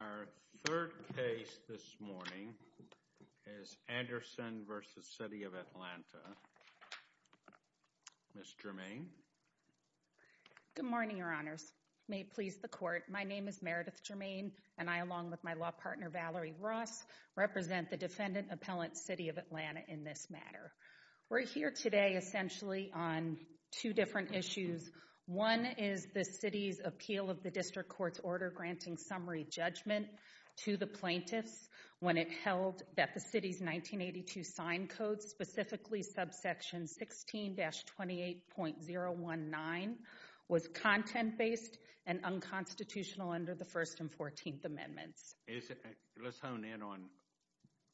Our third case this morning is Anderson v. City of Atlanta. Ms. Germain. Good morning, your honors. May it please the court, my name is Meredith Germain and I along with my law partner Valerie Ross represent the defendant appellant City of Atlanta in this matter. We're here today essentially on two different issues. One is the city's appeal of the district court's order granting summary judgment to the plaintiffs when it held that the city's 1982 sign code, specifically subsection 16-28.019, was content-based and unconstitutional under the First and Fourteenth Amendments. Let's hone in on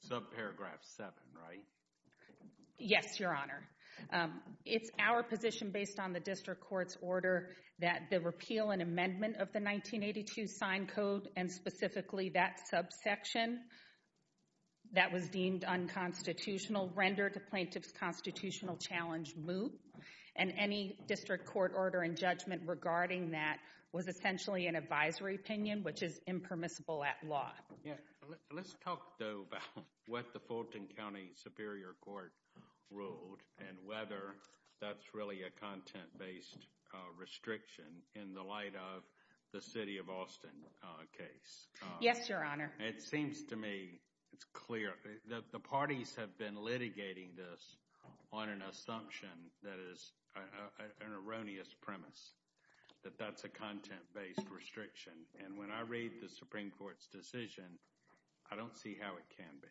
subparagraph 7, right? Yes, your honor. It's our position based on the district court's order that the repeal and amendment of the 1982 sign code and specifically that subsection that was deemed unconstitutional rendered the plaintiff's constitutional challenge moot and any district court order and judgment regarding that was essentially an advisory opinion which is impermissible at law. Let's talk though about what the Fulton County Superior Court ruled and whether that's really a content-based restriction in the light of the city of Austin case. Yes, your honor. It seems to me it's clear that the parties have been litigating this on an assumption that is an erroneous premise that that's a content-based restriction and when I read the Supreme Court's decision, I don't see how it can be.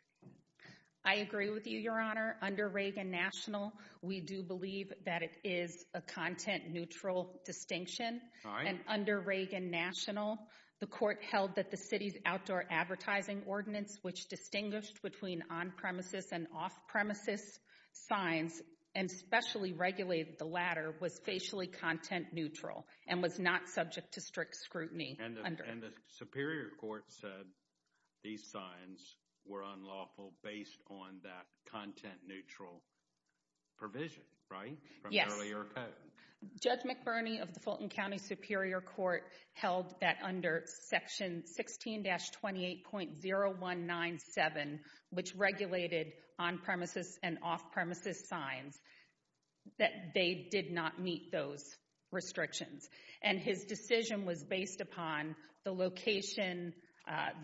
I agree with you, your honor. Under Reagan National, we do believe that it is a content-neutral distinction and under Reagan National, the court held that the city's outdoor advertising ordinance which distinguished between on-premises and off-premises signs and specially regulated the latter was facially content-neutral and was not subject to strict scrutiny. And the Superior Court said these signs were unlawful based on that content-neutral provision, right? Yes. From earlier code. Judge McBurney of the Fulton County Superior Court held that under section 16-28.0197, which regulated on-premises and off-premises signs, that they did not meet those restrictions and his decision was based upon the location,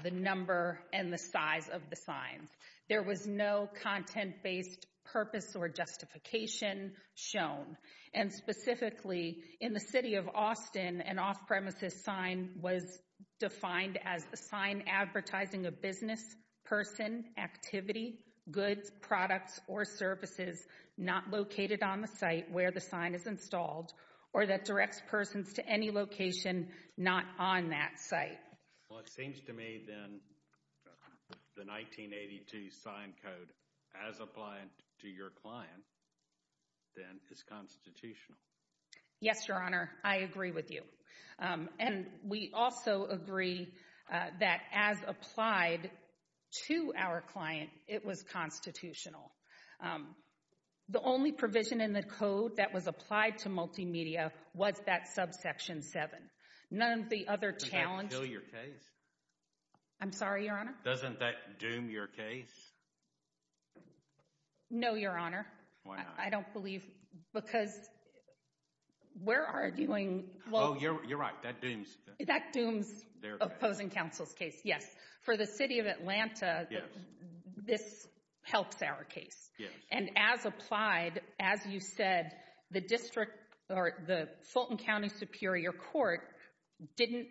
the number, and the size of the signs. There was no content-based purpose or justification shown and specifically in the city of Austin, an off-premises sign was defined as a sign advertising a business, person, activity, goods, products, or services not located on the site where the sign is installed or that directs persons to any location not on that site. Well, it seems to me then the 1982 sign code as applied to your client then is constitutional. Yes, Your Honor. I agree with you. And we also agree that as applied to our client, it was constitutional. The only provision in the code that was applied to multimedia was that subsection 7. None of the other challenged... Does that kill your case? I'm sorry, Your Honor? Doesn't that doom your case? No Your Honor. Why not? I don't believe, because we're arguing... Oh, you're right. That dooms... That dooms opposing counsel's case, yes. For the city of Atlanta, this helps our case. And as applied, as you said, the Fulton County Superior Court didn't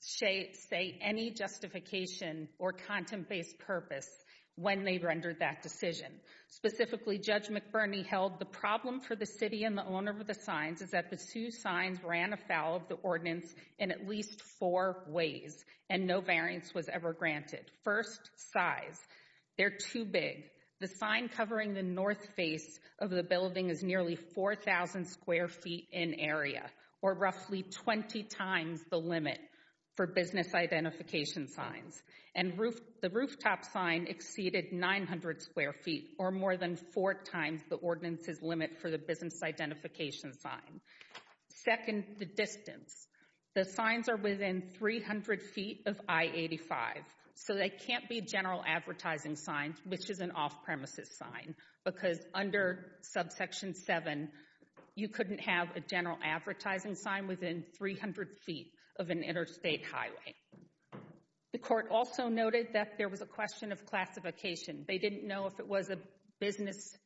say any justification or content-based purpose when they rendered that decision. Specifically, Judge McBurney held the problem for the city and the owner of the signs is that the Sioux signs ran afoul of the ordinance in at least four ways, and no variance was ever granted. First, size. They're too big. The sign covering the north face of the building is nearly 4,000 square feet in area, or roughly 20 times the limit for business identification signs. And the rooftop sign exceeded 900 square feet, or more than four times the ordinance's limit for the business identification sign. Second, the distance. The signs are within 300 feet of I-85, so they can't be general advertising signs, which is an off-premises sign, because under subsection 7, you couldn't have a general advertising sign within 300 feet of an interstate highway. The court also noted that there was a question of classification. They didn't know if it was a business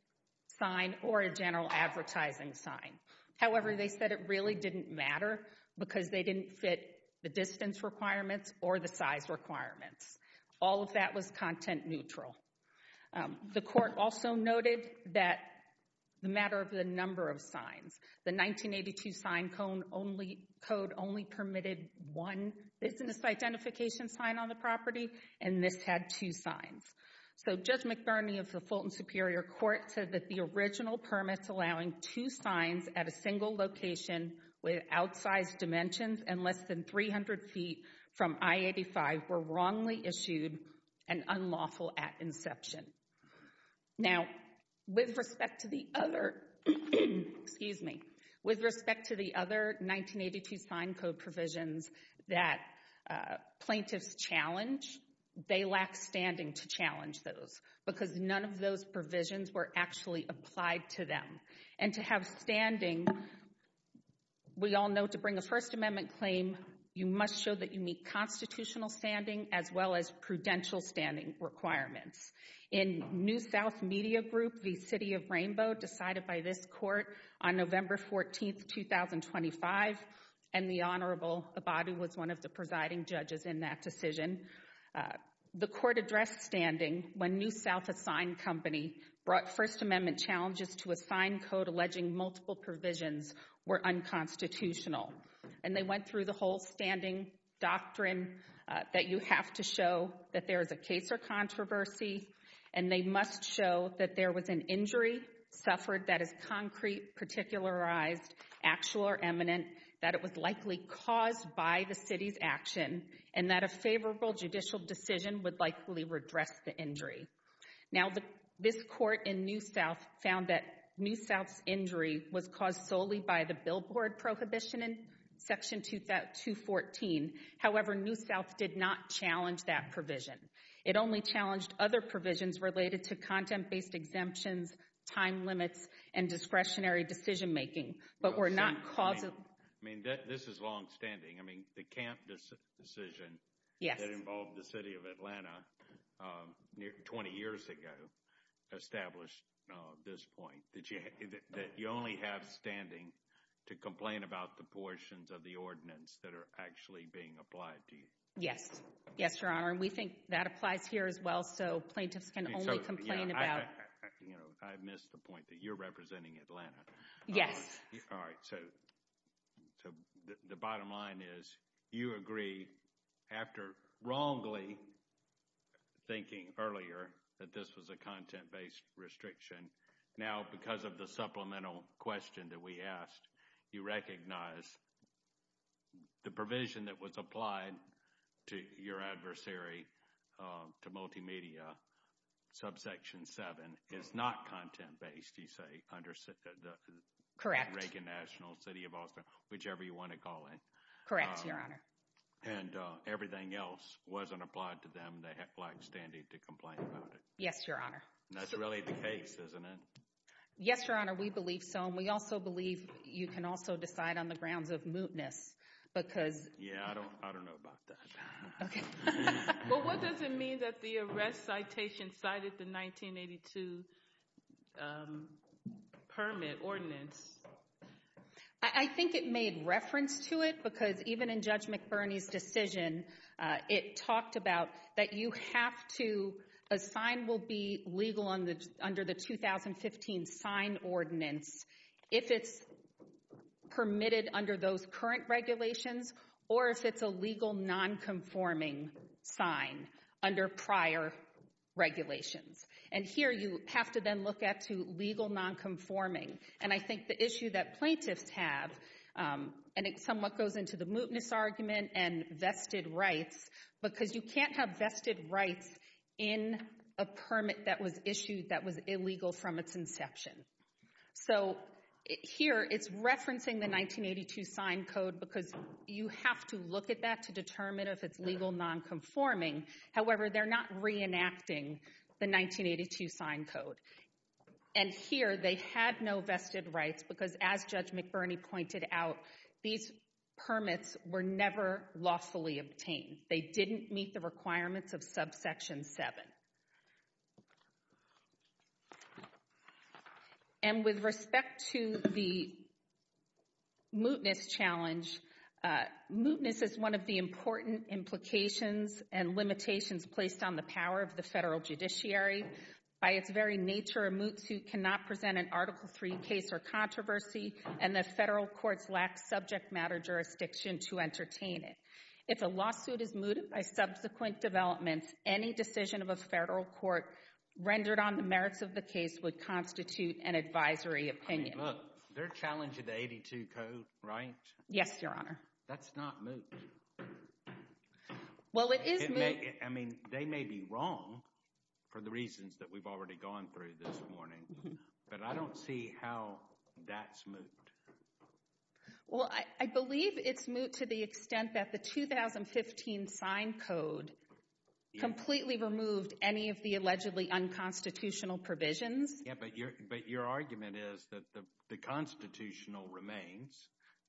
sign or a general advertising sign. However, they said it really didn't matter because they didn't fit the distance requirements or the size requirements. All of that was content-neutral. The court also noted that the matter of the number of signs. The 1982 sign code only permitted one business identification sign on the property, and this had two signs. So Judge McBurney of the Fulton Superior Court said that the original permits allowing two signs at a single location with outsized dimensions and less than 300 feet from I-85 were wrongly issued and unlawful at inception. Now, with respect to the other, excuse me, with respect to the other 1982 sign code provisions that plaintiffs challenge, they lack standing to challenge those because none of those provisions were actually applied to them. And to have standing, we all know to bring a First Amendment claim, you must show that you meet constitutional standing as well as prudential standing requirements. In New South Media Group, the City of Rainbow decided by this court on November 14, 2025, and the Honorable Abadu was one of the presiding judges in that decision. The court addressed standing when New South, a sign company, brought First Amendment challenges to a sign code alleging multiple provisions were unconstitutional. And they went through the whole standing doctrine that you have to show that there is a case or controversy, and they must show that there was an injury suffered that is concrete, particularized, actual or eminent, that it was likely caused by the City's action, and that a favorable judicial decision would likely redress the injury. Now, this court in New South found that New South's injury was caused solely by the billboard prohibition in Section 214. However, New South did not challenge that provision. It only challenged other provisions related to content-based exemptions, time limits, and discretionary decision-making. But we're not causing... I mean, this is long-standing. I mean, the Camp decision that involved the City of Atlanta 20 years ago established this point, that you only have standing to complain about the portions of the ordinance that are actually being applied to you. Yes. Yes, Your Honor. We think that applies here as well. So, plaintiffs can only complain about... You know, I missed the point that you're representing Atlanta. Yes. All right. So, the bottom line is, you agree after wrongly thinking earlier that this was a content-based restriction. Now, because of the supplemental question that we asked, you recognize the provision that was applied to your adversary, to Multimedia, Subsection 7, is not content-based, you say, under the Reagan National, City of Austin, whichever you want to call it. Correct, Your Honor. And everything else wasn't applied to them, and they have black standing to complain about it. Yes, Your Honor. And that's really the case, isn't it? Yes, Your Honor. We believe so. And we also believe you can also decide on the grounds of mootness, because... Yeah, I don't know about that. Okay. Well, what does it mean that the arrest citation cited the 1982 permit, ordinance? I think it made reference to it, because even in Judge McBurney's decision, it talked about that you have to, a sign will be legal under the 2015 sign ordinance, if it's permitted under those current regulations, or if it's a legal non-conforming sign under prior regulations. And here, you have to then look at to legal non-conforming. And I think the issue that plaintiffs have, and it somewhat goes into the mootness argument and vested rights, because you can't have vested rights in a permit that was issued that was illegal from its inception. So here, it's referencing the 1982 sign code, because you have to look at that to determine if it's legal non-conforming. However, they're not reenacting the 1982 sign code. And here, they had no vested rights, because as Judge McBurney pointed out, these permits were never lawfully obtained. They didn't meet the requirements of subsection 7. And with respect to the mootness challenge, mootness is one of the important implications and limitations placed on the power of the federal judiciary. By its very nature, a moot suit cannot present an Article III case or controversy, and the federal courts lack subject matter jurisdiction to entertain it. If a lawsuit is mooted by subsequent developments, any decision of a federal court rendered on the merits of the case would constitute an advisory opinion. I mean, look, they're challenging the 1982 code, right? Yes, Your Honor. That's not moot. Well, it is moot. I mean, they may be wrong for the reasons that we've already gone through this morning, but I don't see how that's moot. Well, I believe it's moot to the extent that the 2015 sign code completely removed any of the allegedly unconstitutional provisions. Yeah, but your argument is that the constitutional remains,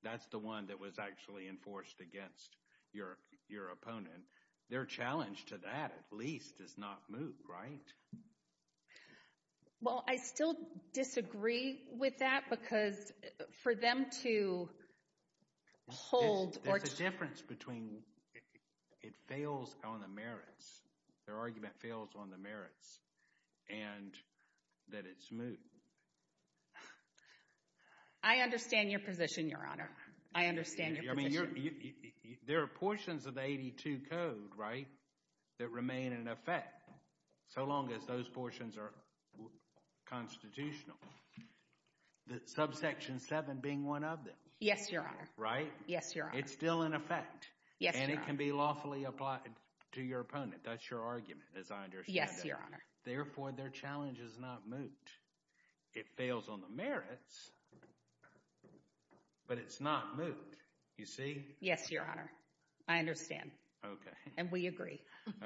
that's the one that was actually enforced against your opponent. Their challenge to that, at least, is not moot, right? Well, I still disagree with that because for them to hold or to— There's a difference between it fails on the merits. Their argument fails on the merits and that it's moot. I understand your position, Your Honor. I understand your position. I mean, there are portions of the 1982 code, right, that remain in effect so long as those portions are constitutional, the subsection 7 being one of them. Yes, Your Honor. Right? Yes, Your Honor. It's still in effect. Yes, Your Honor. And that can be lawfully applied to your opponent. That's your argument, as I understand it. Yes, Your Honor. Therefore, their challenge is not moot. It fails on the merits, but it's not moot. You see? Yes, Your Honor. I understand. Okay. And we agree.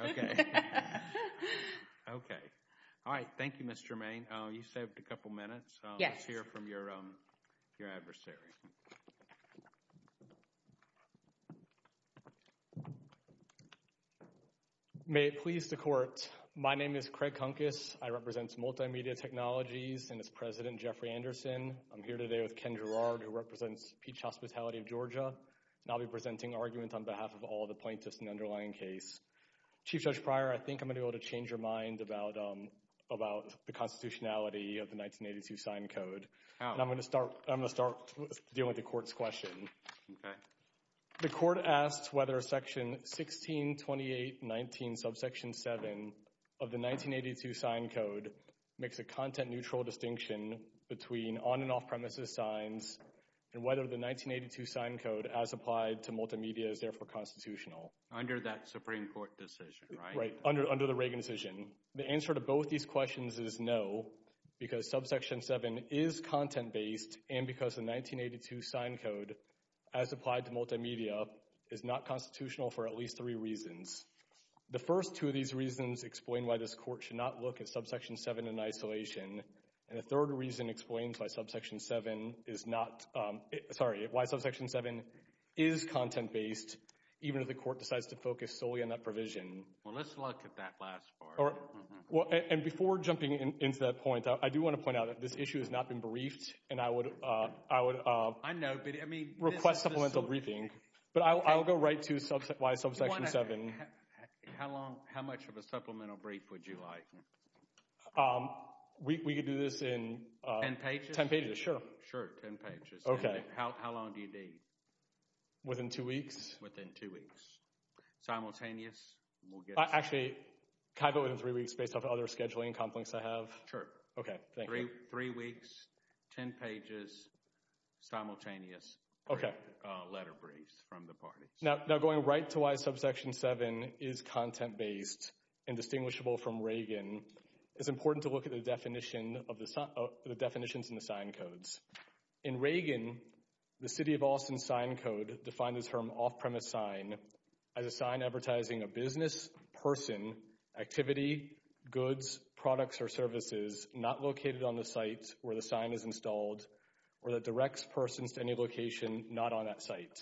Okay. Okay. All right. Thank you, Ms. Germain. You saved a couple minutes. Yes. Let's hear from your adversary. May it please the Court. My name is Craig Kunkas. I represent Multimedia Technologies and its president, Jeffrey Anderson. I'm here today with Ken Girard, who represents Peach Hospitality of Georgia, and I'll be presenting arguments on behalf of all the plaintiffs in the underlying case. Chief Judge Pryor, I think I'm going to be able to change your mind about the constitutionality of the 1982 sign code. How? And I'm going to start dealing with the Court's question. Okay. The Court asks whether Section 162819, subsection 7 of the 1982 sign code makes a content-neutral distinction between on- and off-premises signs and whether the 1982 sign code, as applied to Multimedia, is therefore constitutional. Under that Supreme Court decision, right? Right. Under the Reagan decision. The answer to both these questions is no, because subsection 7 is content-based and because the 1982 sign code, as applied to Multimedia, is not constitutional for at least three reasons. The first two of these reasons explain why this Court should not look at subsection 7 in isolation, and the third reason explains why subsection 7 is not, sorry, why subsection 7 is content-based, even if the Court decides to focus solely on that provision. Well, let's look at that last part. And before jumping into that point, I do want to point out that this issue has not been briefed and I would request supplemental briefing, but I'll go right to why subsection 7. How much of a supplemental brief would you like? We could do this in 10 pages, sure. Sure. 10 pages. Okay. How long do you need? Within two weeks. Within two weeks. Simultaneous? Actually, can I go in three weeks based off of other scheduling conflicts I have? Okay, thank you. Three weeks, 10 pages, simultaneous letter briefs from the parties. Now, going right to why subsection 7 is content-based and distinguishable from Reagan, it's important to look at the definitions in the sign codes. In Reagan, the City of Austin sign code defined this term off-premise sign as a sign advertising a business, person, activity, goods, products, or services not located on the site where the sign is installed or that directs persons to any location not on that site.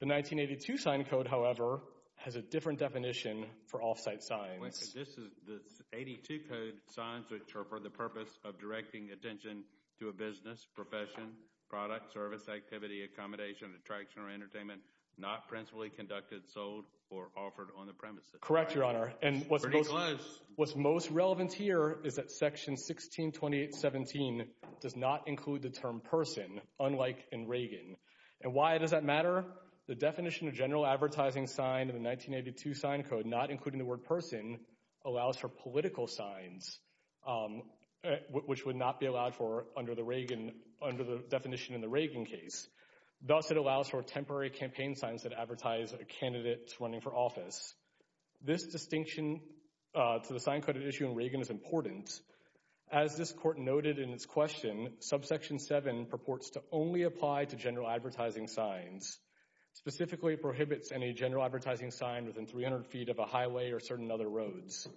The 1982 sign code, however, has a different definition for off-site signs. This is the 82 code signs which are for the purpose of directing attention to a business, profession, product, service, activity, accommodation, attraction, or entertainment not principally conducted, sold, or offered on the premises. Correct, Your Honor. Pretty close. And what's most relevant here is that section 162817 does not include the term person unlike in Reagan. And why does that matter? The definition of general advertising signed in the 1982 sign code not including the word person allows for political signs which would not be allowed for under the Reagan, under the definition in the Reagan case. Thus, it allows for temporary campaign signs that advertise a candidate running for office. This distinction to the sign code issue in Reagan is important. As this court noted in its question, subsection 7 purports to only apply to general advertising signs. Specifically, it prohibits any general advertising sign within 300 feet of a highway or certain other roads.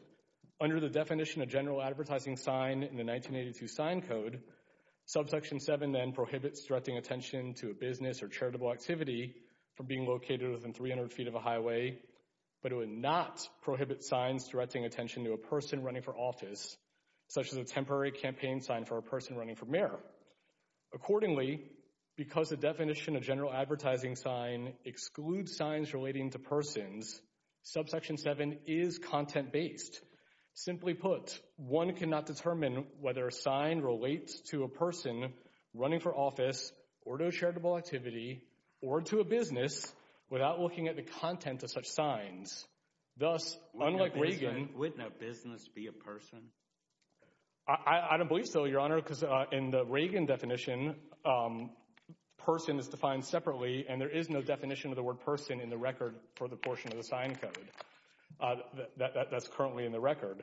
Under the definition of general advertising sign in the 1982 sign code, subsection 7 then prohibits directing attention to a business or charitable activity from being located within 300 feet of a highway, but it would not prohibit signs directing attention to a person running for office such as a temporary campaign sign for a person running for mayor. Accordingly, because the definition of general advertising sign excludes signs relating to persons, subsection 7 is content-based. Simply put, one cannot determine whether a sign relates to a person running for office or to a charitable activity or to a business without looking at the content of such signs. Thus, unlike Reagan... Wouldn't a business be a person? I don't believe so, Your Honor, because in the Reagan definition, person is defined separately and there is no definition of the word person in the record for the portion of the sign code that's currently in the record.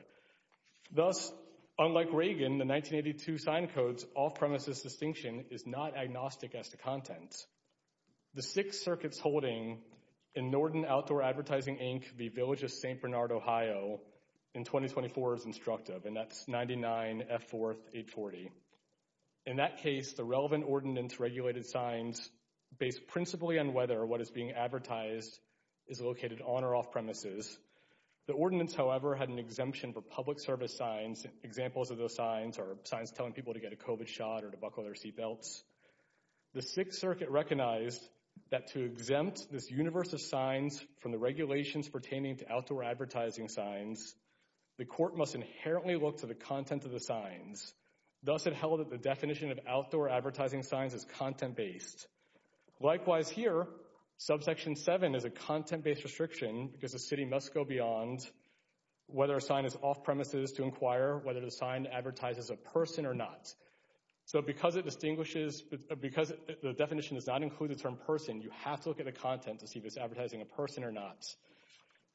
Thus, unlike Reagan, the 1982 sign code's off-premises distinction is not agnostic as to content. The six circuits holding in Norton Outdoor Advertising, Inc., the Village of St. Bernard, Ohio, in 2024 is instructive, and that's 99F4-840. In that case, the relevant ordinance regulated signs based principally on whether what is being advertised is located on or off-premises. The ordinance, however, had an exemption for public service signs, examples of those signs are signs telling people to get a COVID shot or to buckle their seatbelts. The Sixth Circuit recognized that to exempt this universe of signs from the regulations pertaining to outdoor advertising signs, the court must inherently look to the content of the signs. Thus, it held that the definition of outdoor advertising signs is content-based. Likewise here, subsection 7 is a content-based restriction because the city must go beyond whether a sign is off-premises to inquire whether the sign advertises a person or not. So because it distinguishes, because the definition does not include the term person, you have to look at the content to see if it's advertising a person or not.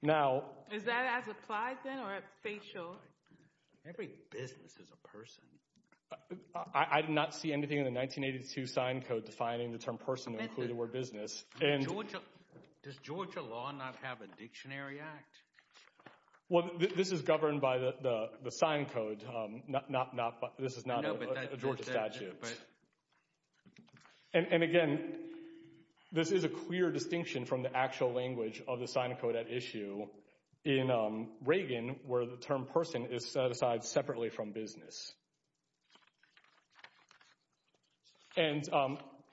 Now- Is that as applied then, or it's facial? Every business is a person. I did not see anything in the 1982 sign code defining the term person to include the word business and- Georgia, does Georgia law not have a dictionary act? Well, this is governed by the sign code, not, this is not a Georgia statute. And again, this is a clear distinction from the actual language of the sign code at issue in Reagan where the term person is set aside separately from business. And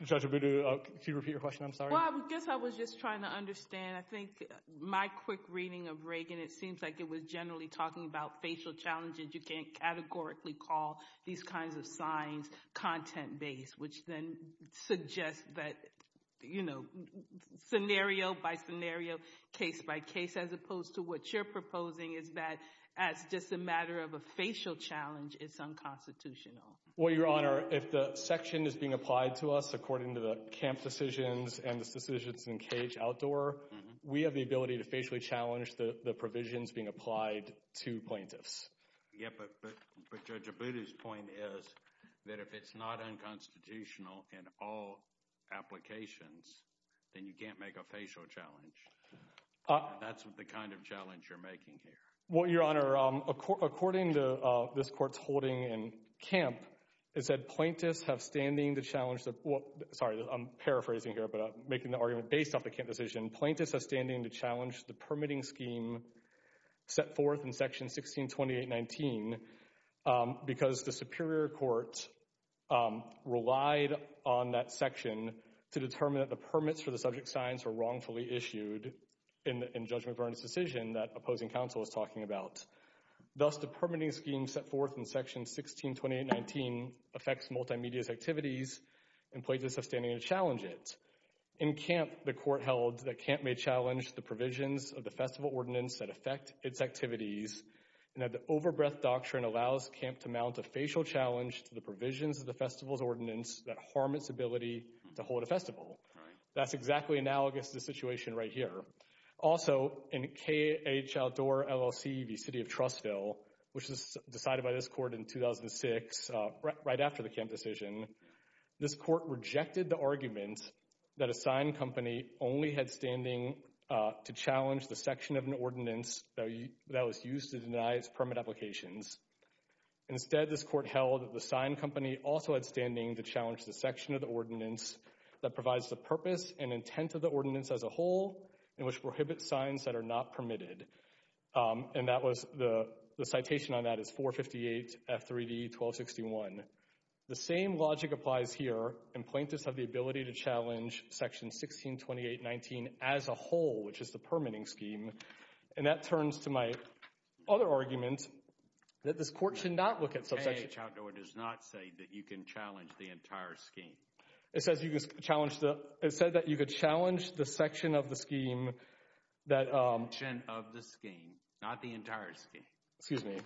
Judge Abudu, could you repeat your question? I'm sorry. Well, I guess I was just trying to understand. I think my quick reading of Reagan, it seems like it was generally talking about facial challenges. You can't categorically call these kinds of signs content-based, which then suggests that, you know, scenario by scenario, case by case, as opposed to what you're proposing is that as just a matter of a facial challenge, it's unconstitutional. Well, Your Honor, if the section is being applied to us according to the camp decisions and the decisions in CAGE Outdoor, we have the ability to facially challenge the provisions being applied to plaintiffs. Yeah, but Judge Abudu's point is that if it's not unconstitutional in all applications, then you can't make a facial challenge. That's the kind of challenge you're making here. Well, Your Honor, according to this court's holding in camp, it said plaintiffs have standing to challenge the, sorry, I'm paraphrasing here, but making the argument based off the camp decision, plaintiffs have standing to challenge the permitting scheme set forth in Section 1628.19 because the Superior Court relied on that section to determine that the permits for the subject signs were wrongfully issued in Judge McBurn's decision that opposing counsel was talking about. Thus, the permitting scheme set forth in Section 1628.19 affects multimedia's activities and plaintiffs have standing to challenge it. In camp, the court held that camp may challenge the provisions of the festival ordinance that affect its activities and that the overbreath doctrine allows camp to mount a facial challenge to the provisions of the festival's ordinance that harm its ability to hold a festival. That's exactly analogous to the situation right here. Also, in KH outdoor LLC v. City of Trustville, which was decided by this court in 2006, right after the camp decision, this court rejected the argument that a signed company only had standing to challenge the section of an ordinance that was used to deny its permit applications. Instead, this court held that the signed company also had standing to challenge the section of the ordinance that provides the purpose and intent of the ordinance as a whole and which prohibits signs that are not permitted. And that was the citation on that is 458 F3D 1261. The same logic applies here and plaintiffs have the ability to challenge Section 162819 as a whole, which is the permitting scheme. And that turns to my other argument that this court should not look at subsection... KH outdoor does not say that you can challenge the entire scheme. It says you can challenge the... It said that you could challenge the section of the scheme that... The section of the scheme, not the entire scheme. Excuse me.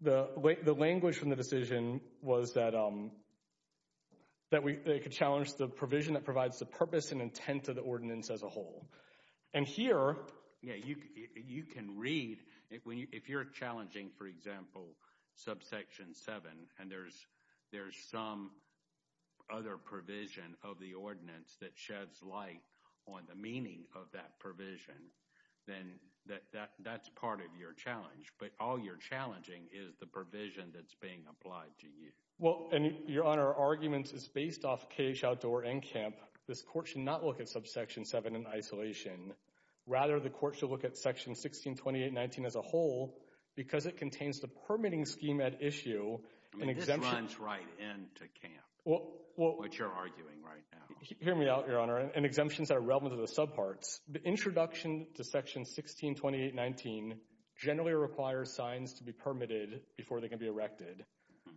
The language from the decision was that they could challenge the provision that provides the purpose and intent of the ordinance as a whole. And here, you can read, if you're challenging, for example, subsection 7 and there's some other provision of the ordinance that sheds light on the meaning of that provision, then that's part of your challenge. But all you're challenging is the provision that's being applied to you. Well, and Your Honor, our argument is based off KH outdoor and CAMP. This court should not look at subsection 7 in isolation. Rather, the court should look at Section 162819 as a whole because it contains the permitting scheme at issue. I mean, this runs right into CAMP, what you're arguing right now. Hear me out, Your Honor. And exemptions are relevant to the subparts. The introduction to Section 162819 generally requires signs to be permitted before they can be erected.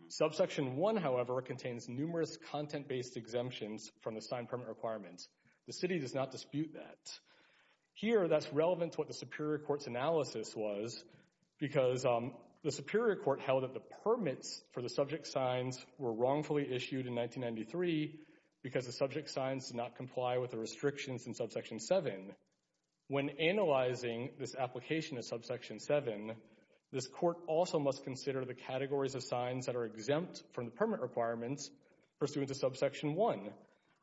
Subsection 1, however, contains numerous content-based exemptions from the sign permit requirements. The city does not dispute that. Here, that's relevant to what the Superior Court's analysis was because the Superior Court held that the permits for the subject signs were wrongfully issued in 1993 because the subject signs did not comply with the restrictions in subsection 7. When analyzing this application of subsection 7, this court also must consider the categories of signs that are exempt from the permit requirements pursuant to subsection 1.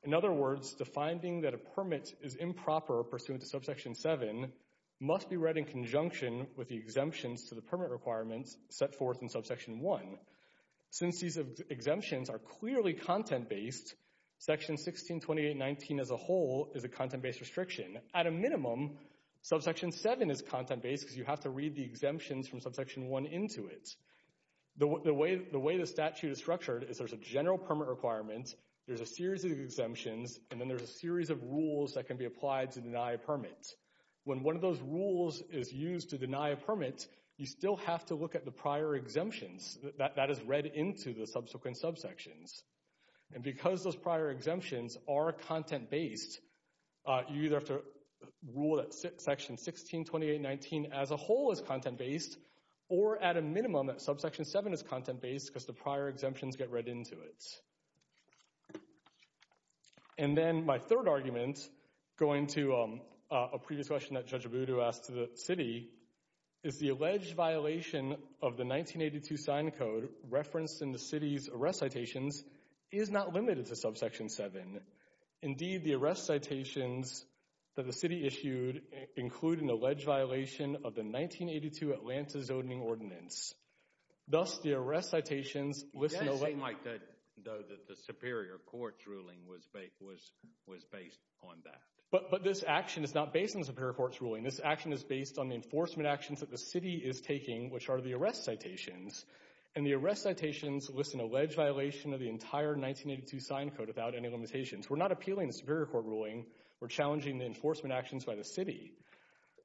In other words, the finding that a permit is improper pursuant to subsection 7 must be read in conjunction with the exemptions to the permit requirements set forth in subsection 1. Since these exemptions are clearly content-based, Section 162819 as a whole is a content-based restriction. At a minimum, subsection 7 is content-based because you have to read the exemptions from subsection 1 into it. The way the statute is structured is there's a general permit requirement, there's a series of exemptions, and then there's a series of rules that can be applied to deny a permit. When one of those rules is used to deny a permit, you still have to look at the prior exemptions that is read into the subsequent subsections. And because those prior exemptions are content-based, you either have to rule that Section 162819 as a whole is content-based, or at a minimum that subsection 7 is content-based because the prior exemptions get read into it. And then my third argument, going to a previous question that Judge Abudu asked to the city, is the alleged violation of the 1982 sign code referenced in the city's arrest citations is not limited to subsection 7. Indeed, the arrest citations that the city issued include an alleged violation of the 1982 Atlanta zoning ordinance. Thus, the arrest citations list an alleged— Yes, it might, though the Superior Court's ruling was based on that. But this action is not based on the Superior Court's ruling. This action is based on the enforcement actions that the city is taking, which are the arrest citations. And the arrest citations list an alleged violation of the entire 1982 sign code without any limitations. We're not appealing the Superior Court ruling. We're challenging the enforcement actions by the city.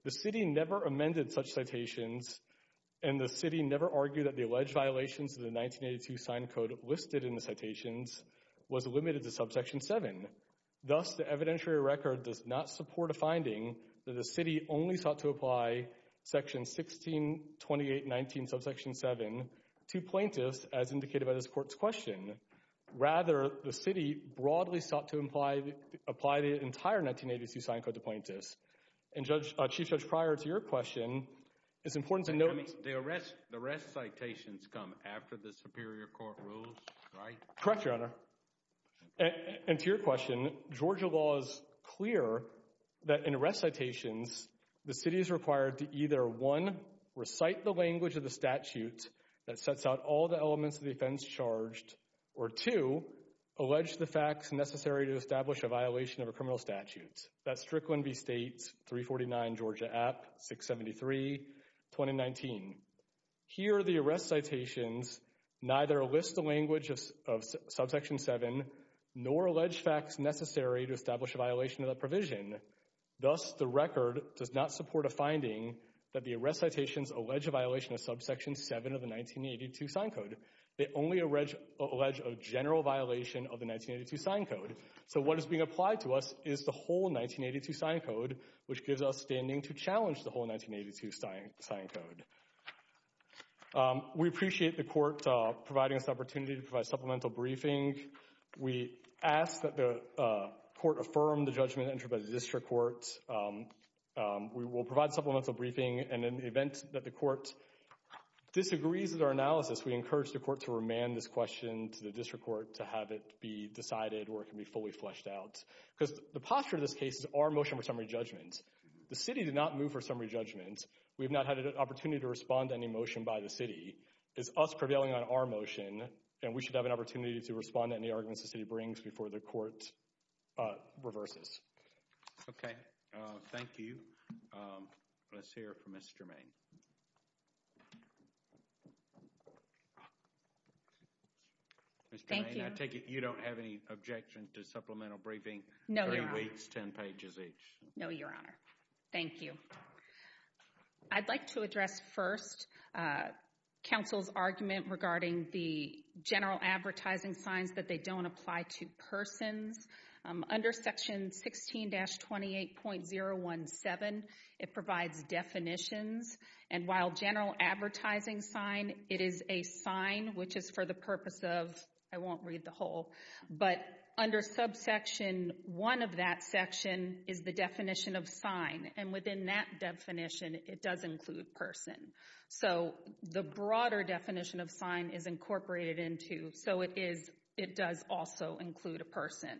The city never amended such citations, and the city never argued that the alleged violations of the 1982 sign code listed in the citations was limited to subsection 7. Thus, the evidentiary record does not support a finding that the city only sought to apply section 162819 subsection 7 to plaintiffs, as indicated by this court's question. Rather, the city broadly sought to apply the entire 1982 sign code to plaintiffs. And, Chief Judge, prior to your question, it's important to note— The arrest citations come after the Superior Court rules, right? Correct, Your Honor. And to your question, Georgia law is clear that in arrest citations, the city is required to either, one, recite the language of the statute that sets out all the elements of the offense charged, or two, allege the facts necessary to establish a violation of a criminal statute. That's Strickland v. State, 349 Georgia App, 673, 2019. Here, the arrest citations neither list the language of subsection 7 nor allege facts necessary to establish a violation of the provision. Thus, the record does not support a finding that the arrest citations allege a violation of subsection 7 of the 1982 sign code. They only allege a general violation of the 1982 sign code. So what is being applied to us is the whole 1982 sign code, which gives us standing to challenge the whole 1982 sign code. Um, we appreciate the court providing us the opportunity to provide supplemental briefing. We ask that the court affirm the judgment entered by the District Court. We will provide supplemental briefing, and in the event that the court disagrees with our analysis, we encourage the court to remand this question to the District Court to have it be decided or it can be fully fleshed out. Because the posture of this case is our motion for summary judgment. The city did not move for summary judgment. We have not had an opportunity to respond to any motion by the city. It's us prevailing on our motion, and we should have an opportunity to respond to any arguments the city brings before the court, uh, reverses. Okay, uh, thank you. Um, let's hear from Ms. Germain. Ms. Germain, I take it you don't have any objections to supplemental briefing? No, Your Honor. Three weeks, ten pages each. No, Your Honor. Thank you. I'd like to address first, uh, counsel's argument regarding the general advertising signs that they don't apply to persons. Under section 16-28.017, it provides definitions. And while general advertising sign, it is a sign, which is for the purpose of, I won't read the whole, but under subsection one of that section is the definition of sign. And within that definition, it does include person. So, the broader definition of sign is incorporated into, so it is, it does also include a person.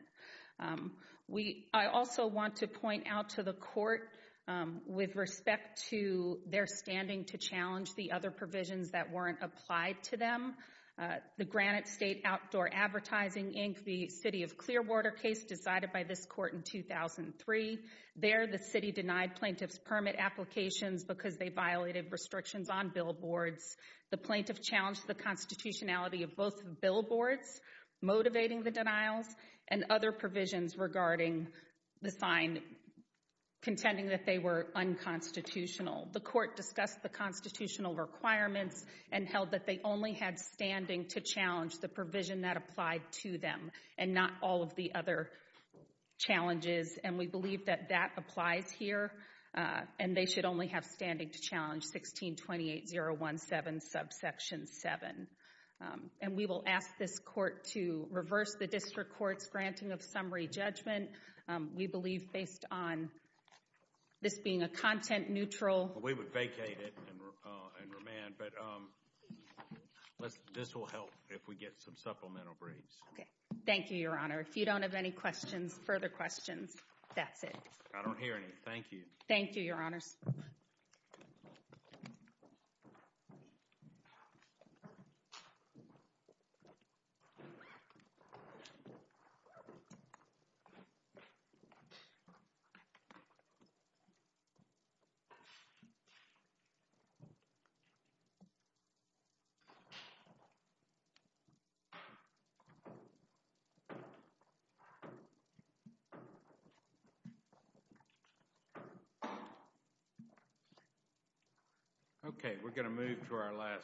Um, we, I also want to point out to the court, um, with respect to their standing to challenge the other provisions that weren't applied to them, uh, the Granite State Outdoor Advertising Inc., the city of Clearwater case decided by this court in 2003. There, the city denied plaintiff's permit applications because they violated restrictions on billboards. The plaintiff challenged the constitutionality of both billboards, motivating the denials, and other provisions regarding the sign, contending that they were unconstitutional. The court discussed the constitutional requirements and held that they only had standing to challenge the provision that applied to them and not all of the other challenges. And we believe that that applies here, uh, and they should only have standing to challenge 16-28017, subsection seven. Um, and we will ask this court to reverse the district court's granting of summary judgment. Um, we believe based on this being a content neutral. We would vacate it and, uh, and remand. But, um, let's, this will help if we get some supplemental briefs. Okay. Thank you, Your Honor. If you don't have any questions, further questions, that's it. I don't hear any. Thank you. Thank you, Your Honors. Thank you. Okay, we're gonna move to our last.